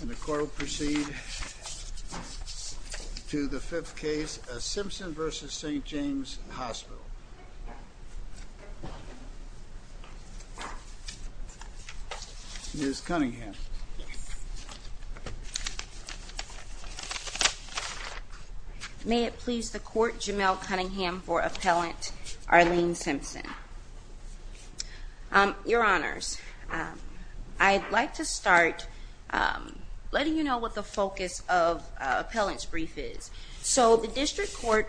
And the court will proceed to the fifth case, Simpson v. St. James Hospital. Ms. Cunningham. May it please the court, Jamel Cunningham for Appellant Arlene Simpson. Your Honors, I'd like to start letting you know what the focus of Appellant's brief is. So the district court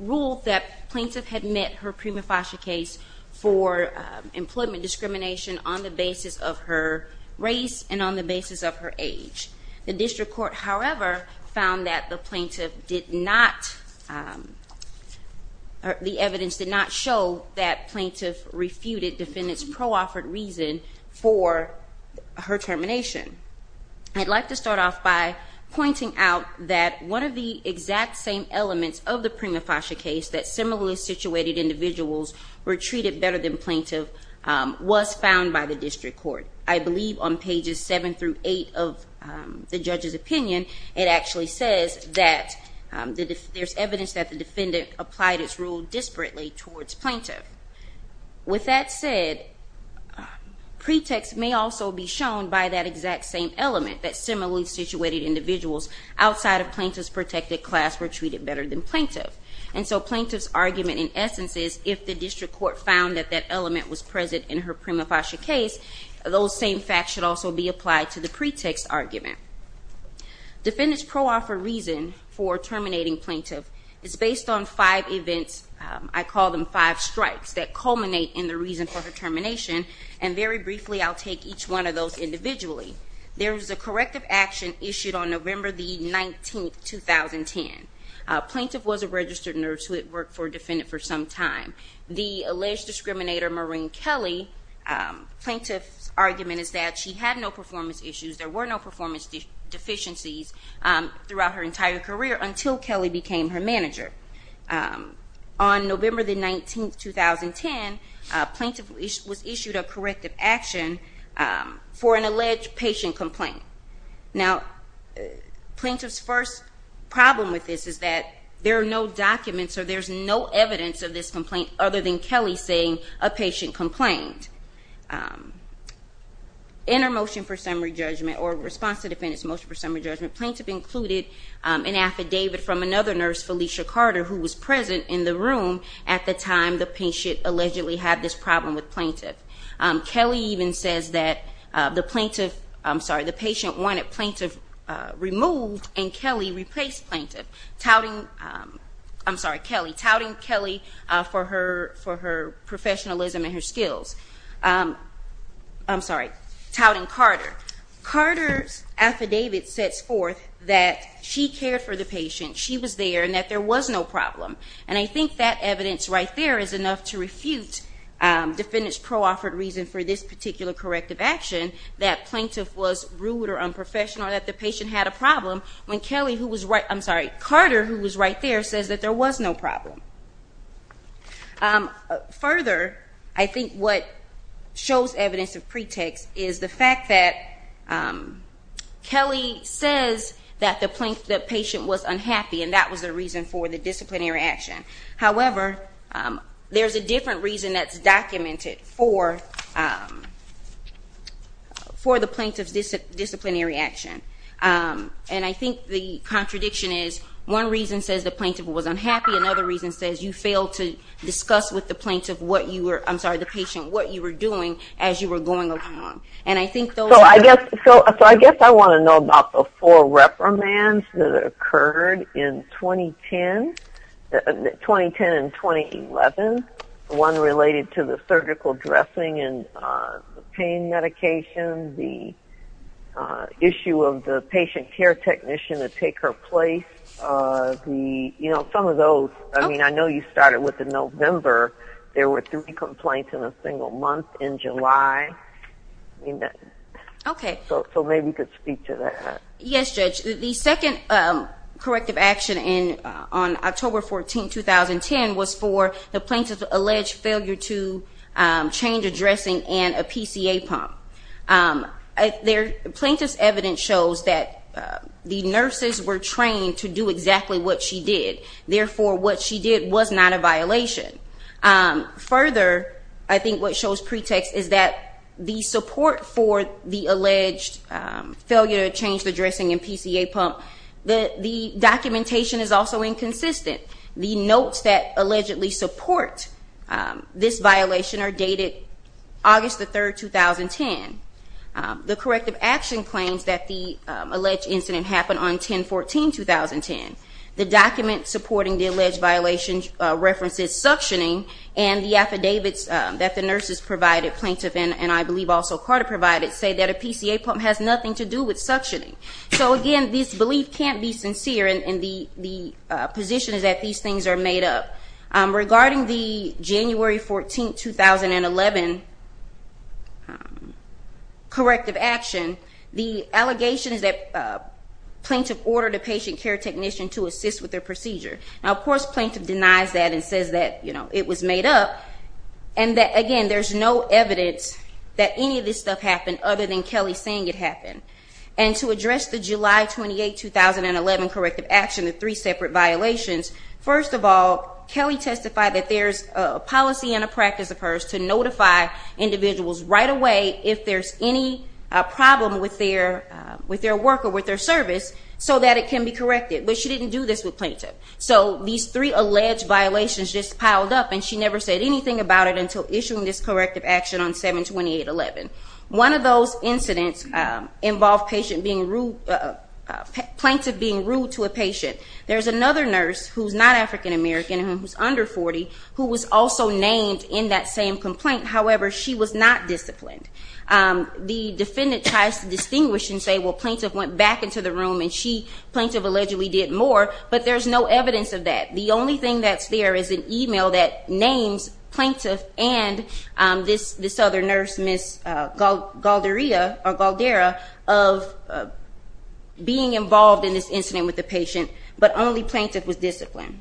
ruled that plaintiff had met her prima facie case for employment discrimination on the basis of her race and on the basis of her age. The district court, however, found that the plaintiff did not, the evidence did not show that plaintiff refuted defendant's pro-offered reason for her termination. I'd like to start off by pointing out that one of the exact same elements of the prima facie case that similarly situated individuals were treated better than plaintiff was found by the district court. I believe on pages seven through eight of the judge's opinion, it actually says that there's evidence that the defendant applied its rule disparately towards plaintiff. With that said, pretext may also be shown by that exact same element, that similarly situated individuals outside of plaintiff's protected class were treated better than plaintiff. And so plaintiff's argument in essence is if the district court found that that element was present in her prima facie case, those same facts should also be applied to the pretext argument. Defendant's pro-offered reason for terminating plaintiff is based on five events, I call them five strikes, that culminate in the reason for her termination. And very briefly, I'll take each one of those individually. There was a corrective action issued on November the 19th, 2010. Plaintiff was a registered nurse who had worked for a defendant for some time. The alleged discriminator, Maureen Kelly, plaintiff's argument is that she had no performance issues. There were no performance deficiencies throughout her entire career until Kelly became her manager. On November the 19th, 2010, plaintiff was issued a corrective action for an alleged patient complaint. Now, plaintiff's first problem with this is that there are no documents or there's no evidence of this complaint other than Kelly saying a patient complained. In her motion for summary judgment or response to defendant's motion for summary judgment, plaintiff included an affidavit from another nurse, Felicia Carter, who was present in the room at the time the patient allegedly had this problem with plaintiff. Kelly even says that the patient wanted plaintiff removed and Kelly replaced plaintiff, touting Kelly for her professionalism and her skills. I'm sorry, touting Carter. Carter's affidavit sets forth that she cared for the patient, she was there, and that there was no problem. And I think that evidence right there is enough to refute defendant's pro-offered reason for this particular corrective action, that plaintiff was rude or unprofessional, that the patient had a problem, when Carter, who was right there, says that there was no problem. Further, I think what shows evidence of pretext is the fact that Kelly says that the patient was unhappy, and that was the reason for the disciplinary action. However, there's a different reason that's documented for the plaintiff's disciplinary action. And I think the contradiction is one reason says the plaintiff was unhappy, another reason says you failed to discuss with the patient what you were doing as you were going along. So I guess I want to know about the four reprimands that occurred in 2010 and 2011, one related to the surgical dressing and pain medication, the issue of the patient care technician to take her place, some of those. I mean, I know you started with the November. There were three complaints in a single month in July. So maybe you could speak to that. Yes, Judge. The second corrective action on October 14, 2010, was for the plaintiff's alleged failure to change a dressing and a PCA pump. The plaintiff's evidence shows that the nurses were trained to do exactly what she did. Therefore, what she did was not a violation. Further, I think what shows pretext is that the support for the alleged failure to change the dressing and PCA pump, the documentation is also inconsistent. The notes that allegedly support this violation are dated August 3, 2010. The corrective action claims that the alleged incident happened on 10-14, 2010. The document supporting the alleged violation references suctioning, and the affidavits that the nurses provided, plaintiff, and I believe also Carter provided, say that a PCA pump has nothing to do with suctioning. So, again, this belief can't be sincere, and the position is that these things are made up. Regarding the January 14, 2011 corrective action, the allegation is that plaintiff ordered a patient care technician to assist with their procedure. Now, of course, plaintiff denies that and says that it was made up, and that, again, there's no evidence that any of this stuff happened other than Kelly saying it happened. And to address the July 28, 2011 corrective action, the three separate violations, first of all, Kelly testified that there's a policy and a practice of hers to notify individuals right away if there's any problem with their work or with their service so that it can be corrected. But she didn't do this with plaintiff. So these three alleged violations just piled up, and she never said anything about it until issuing this corrective action on 7-28-11. One of those incidents involved plaintiff being rude to a patient. There's another nurse who's not African American and who's under 40 who was also named in that same complaint. However, she was not disciplined. The defendant tries to distinguish and say, well, plaintiff went back into the room, and plaintiff allegedly did more, but there's no evidence of that. The only thing that's there is an e-mail that names plaintiff and this other nurse, Ms. Galderia, of being involved in this incident with the patient, but only plaintiff was disciplined.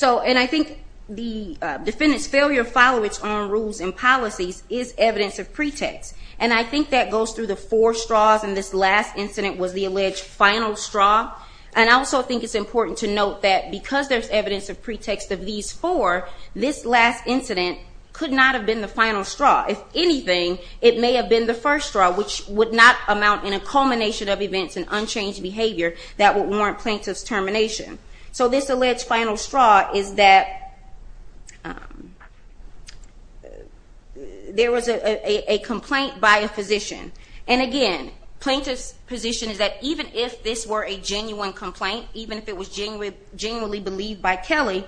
And I think the defendant's failure to follow its own rules and policies is evidence of pretext, and I think that goes through the four straws, and this last incident was the alleged final straw. And I also think it's important to note that because there's evidence of pretext of these four, this last incident could not have been the final straw. If anything, it may have been the first straw, which would not amount in a culmination of events and unchanged behavior that would warrant plaintiff's termination. So this alleged final straw is that there was a complaint by a physician. And, again, plaintiff's position is that even if this were a genuine complaint, even if it was genuinely believed by Kelly,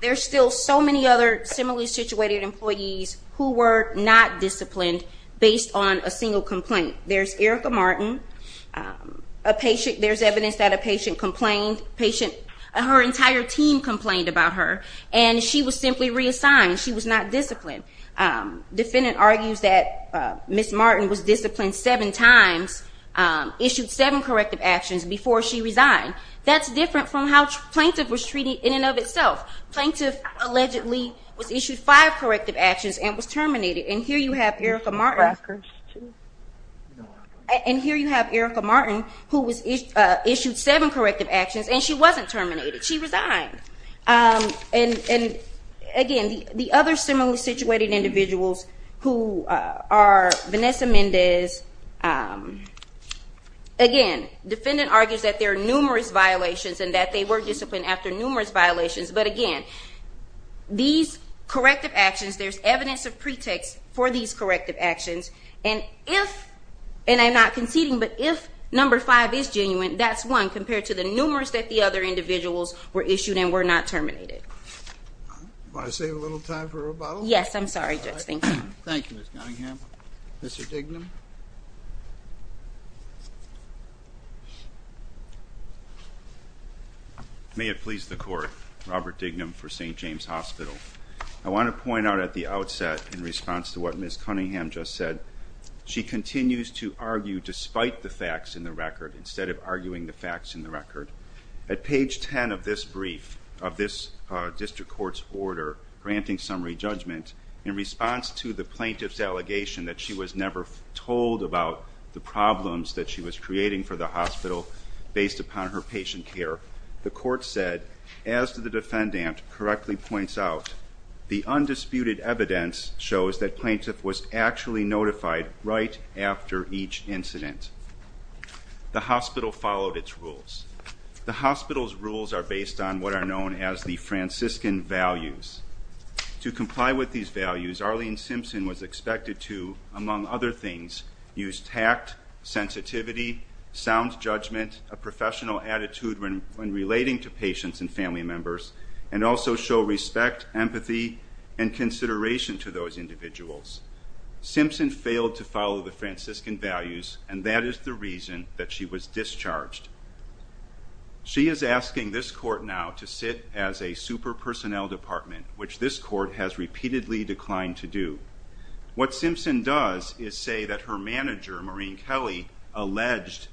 there are still so many other similarly situated employees who were not disciplined based on a single complaint. There's Erica Martin. There's evidence that a patient complained. Her entire team complained about her, and she was simply reassigned. She was not disciplined. Defendant argues that Ms. Martin was disciplined seven times, issued seven corrective actions before she resigned. That's different from how plaintiff was treated in and of itself. Plaintiff allegedly was issued five corrective actions and was terminated. And here you have Erica Martin who was issued seven corrective actions, and she wasn't terminated. She resigned. And, again, the other similarly situated individuals who are Vanessa Mendez, again, defendant argues that there are numerous violations and that they were disciplined after numerous violations. But, again, these corrective actions, there's evidence of pretext for these corrective actions. And if, and I'm not conceding, but if number five is genuine, that's one, compared to the numerous that the other individuals were issued and were not terminated. May I save a little time for rebuttal? Yes, I'm sorry, Judge. Thank you. Thank you, Ms. Cunningham. Mr. Dignam. May it please the Court, Robert Dignam for St. James Hospital. I want to point out at the outset, in response to what Ms. Cunningham just said, she continues to argue despite the facts in the record, instead of arguing the facts in the record. At page 10 of this brief, of this district court's order granting summary judgment, in response to the plaintiff's allegation that she was never told about the problems that she was creating for the hospital based upon her patient care, the Court said, as the defendant correctly points out, the undisputed evidence shows that plaintiff was actually notified right after each incident. The hospital followed its rules. The hospital's rules are based on what are known as the Franciscan values. To comply with these values, Arlene Simpson was expected to, among other things, use tact, sensitivity, sound judgment, a professional attitude when relating to patients and family members, and also show respect, empathy, and consideration to those individuals. Simpson failed to follow the Franciscan values, and that is the reason that she was discharged. She is asking this Court now to sit as a super personnel department, which this Court has repeatedly declined to do. What Simpson does is say that her manager, Maureen Kelly, alleged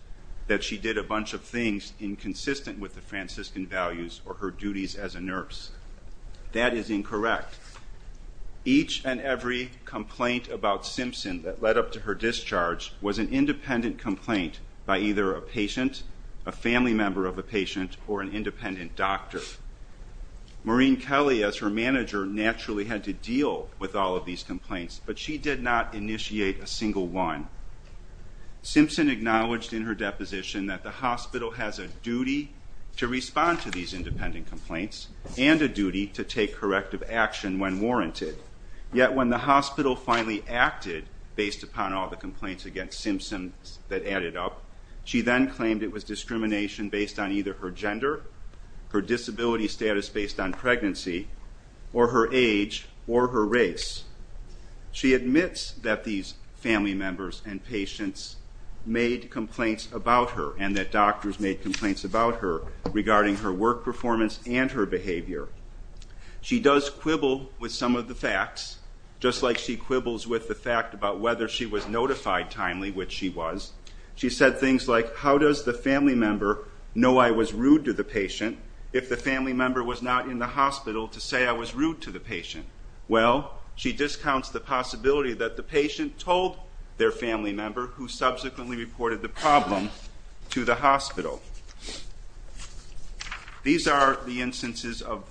that she did a bunch of things inconsistent with the Franciscan values or her duties as a nurse. That is incorrect. Each and every complaint about Simpson that led up to her discharge was an independent complaint by either a patient, a family member of a patient, or an independent doctor. Maureen Kelly, as her manager, naturally had to deal with all of these complaints, but she did not initiate a single one. Simpson acknowledged in her deposition that the hospital has a duty to respond to these independent complaints and a duty to take corrective action when warranted. Yet when the hospital finally acted based upon all the complaints against Simpson that added up, she then claimed it was discrimination based on either her gender, her disability status based on pregnancy, or her age, or her race. She admits that these family members and patients made complaints about her and that doctors made complaints about her regarding her work performance and her behavior. She does quibble with some of the facts, just like she quibbles with the fact about whether she was notified timely, which she was. She said things like, how does the family member know I was rude to the patient if the family member was not in the hospital to say I was rude to the patient? Well, she discounts the possibility that the patient told their family member, who subsequently reported the problem, to the hospital. These are the instances of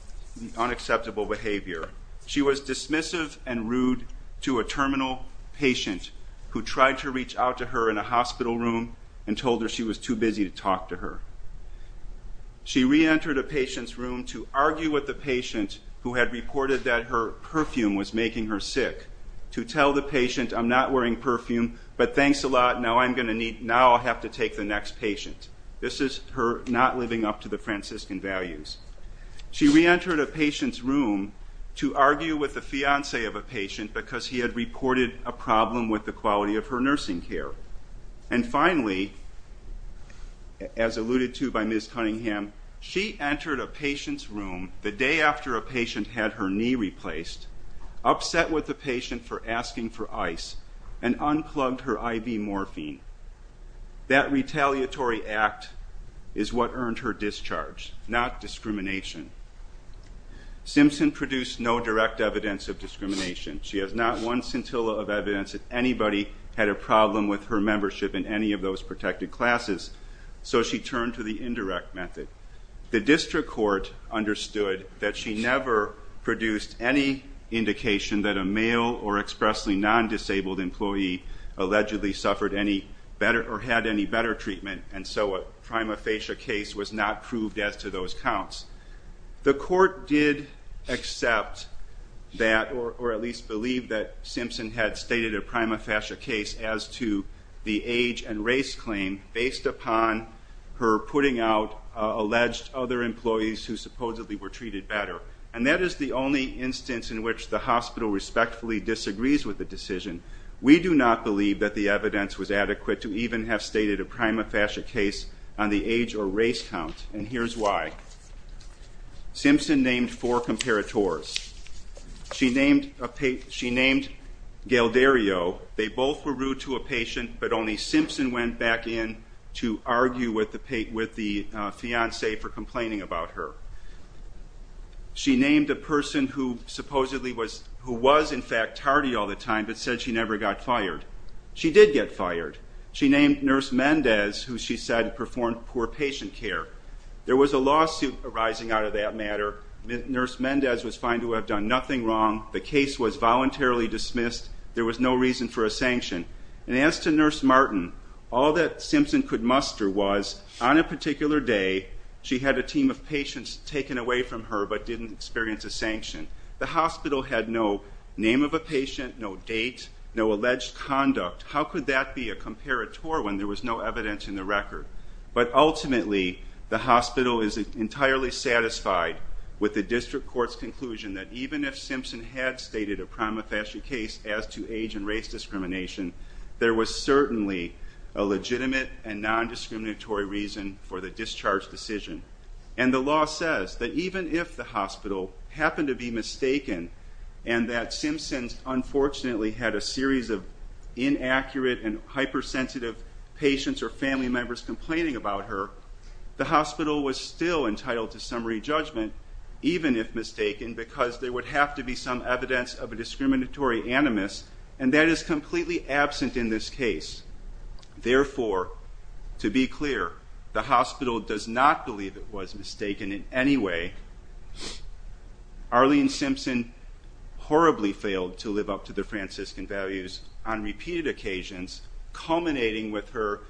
unacceptable behavior. She was dismissive and rude to a terminal patient who tried to reach out to her in a hospital room and told her she was too busy to talk to her. She re-entered a patient's room to argue with the patient who had reported that her perfume was making her sick, to tell the patient, I'm not wearing perfume, but thanks a lot, now I'm going to need, now I'll have to take the next patient. This is her not living up to the Franciscan values. She re-entered a patient's room to argue with the fiance of a patient because he had reported a problem with the quality of her nursing care. And finally, as alluded to by Ms. Cunningham, she entered a patient's room the day after a patient had her knee replaced, upset with the patient for asking for ice, and unplugged her IV morphine. That retaliatory act is what earned her discharge, not discrimination. Simpson produced no direct evidence of discrimination. She has not one scintilla of evidence that anybody had a problem with her membership in any of those protected classes, so she turned to the indirect method. The district court understood that she never produced any indication that a male or expressly non-disabled employee allegedly suffered any better or had any better treatment, and so a prima facie case was not proved as to those counts. The court did accept that, or at least believe that Simpson had stated a prima facie case as to the age and race claim based upon her putting out alleged other employees who supposedly were treated better. And that is the only instance in which the hospital respectfully disagrees with the decision. We do not believe that the evidence was adequate to even have stated a prima facie case on the age or race count, and here's why. Simpson named four comparators. She named Galdario. They both were rude to a patient, but only Simpson went back in to argue with the fiancé for complaining about her. She named a person who supposedly was, who was in fact tardy all the time, but said she never got fired. She did get fired. She named Nurse Mendez, who she said performed poor patient care. There was a lawsuit arising out of that matter. Nurse Mendez was found to have done nothing wrong. The case was voluntarily dismissed. There was no reason for a sanction. And as to Nurse Martin, all that Simpson could muster was on a particular day she had a team of patients taken away from her but didn't experience a sanction. The hospital had no name of a patient, no date, no alleged conduct. How could that be a comparator when there was no evidence in the record? But ultimately, the hospital is entirely satisfied with the district court's conclusion that even if Simpson had stated a prima facie case as to age and race discrimination, there was certainly a legitimate and nondiscriminatory reason for the discharge decision. And the law says that even if the hospital happened to be mistaken and that Simpson unfortunately had a series of inaccurate and hypersensitive patients or family members complaining about her, the hospital was still entitled to summary judgment, even if mistaken, because there would have to be some evidence of a discriminatory animus, and that is completely absent in this case. Therefore, to be clear, the hospital does not believe it was mistaken in any way. Arlene Simpson horribly failed to live up to the Franciscan values on repeated occasions, culminating with her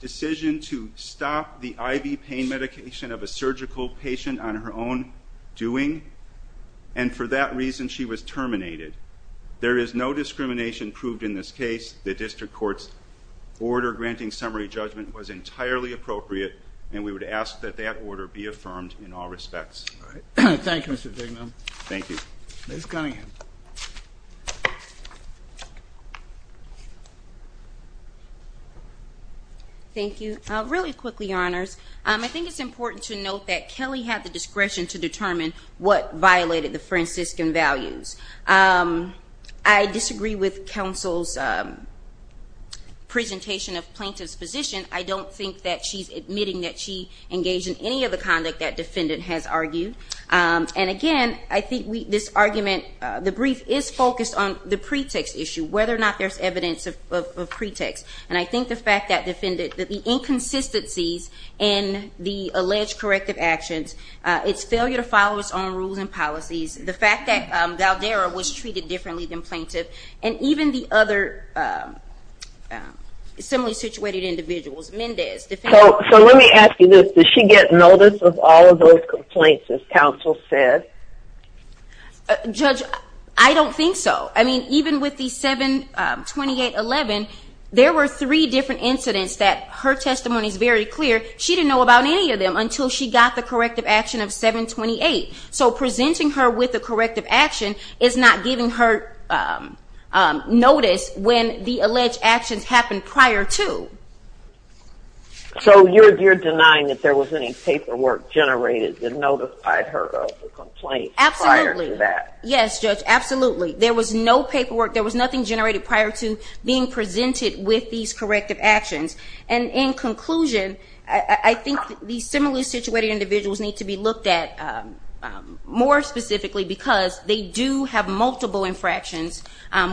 decision to stop the IV pain medication of a surgical patient on her own doing, and for that reason she was terminated. There is no discrimination proved in this case. The district court's order granting summary judgment was entirely appropriate, and we would ask that that order be affirmed in all respects. Thank you, Mr. Dignam. Thank you. Ms. Cunningham. Thank you. Really quickly, Your Honors, I think it's important to note that Kelly had the discretion to determine what violated the Franciscan values. I disagree with counsel's presentation of plaintiff's position. I don't think that she's admitting that she engaged in any of the conduct that defendant has argued. And again, I think this argument, the brief is focused on the pretext issue, whether or not there's evidence of pretext. And I think the fact that the inconsistencies in the alleged corrective actions, its failure to follow its own rules and policies, the fact that Valderra was treated differently than plaintiff, and even the other similarly situated individuals, Mendez, defendant. So let me ask you this. Does she get notice of all of those complaints, as counsel said? Judge, I don't think so. I mean, even with the 728.11, there were three different incidents that her testimony is very clear. She didn't know about any of them until she got the corrective action of 728. So presenting her with a corrective action is not giving her notice when the alleged actions happened prior to. So you're denying that there was any paperwork generated that notified her of the complaint prior to that? Absolutely. Yes, Judge, absolutely. There was no paperwork. There was nothing generated prior to being presented with these corrective actions. And in conclusion, I think these similarly situated individuals need to be looked at more specifically because they do have multiple infractions,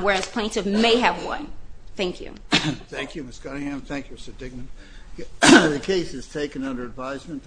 whereas plaintiff may have one. Thank you. Thank you, Ms. Cunningham. Thank you, Mr. Dignan. The case is taken under advisement.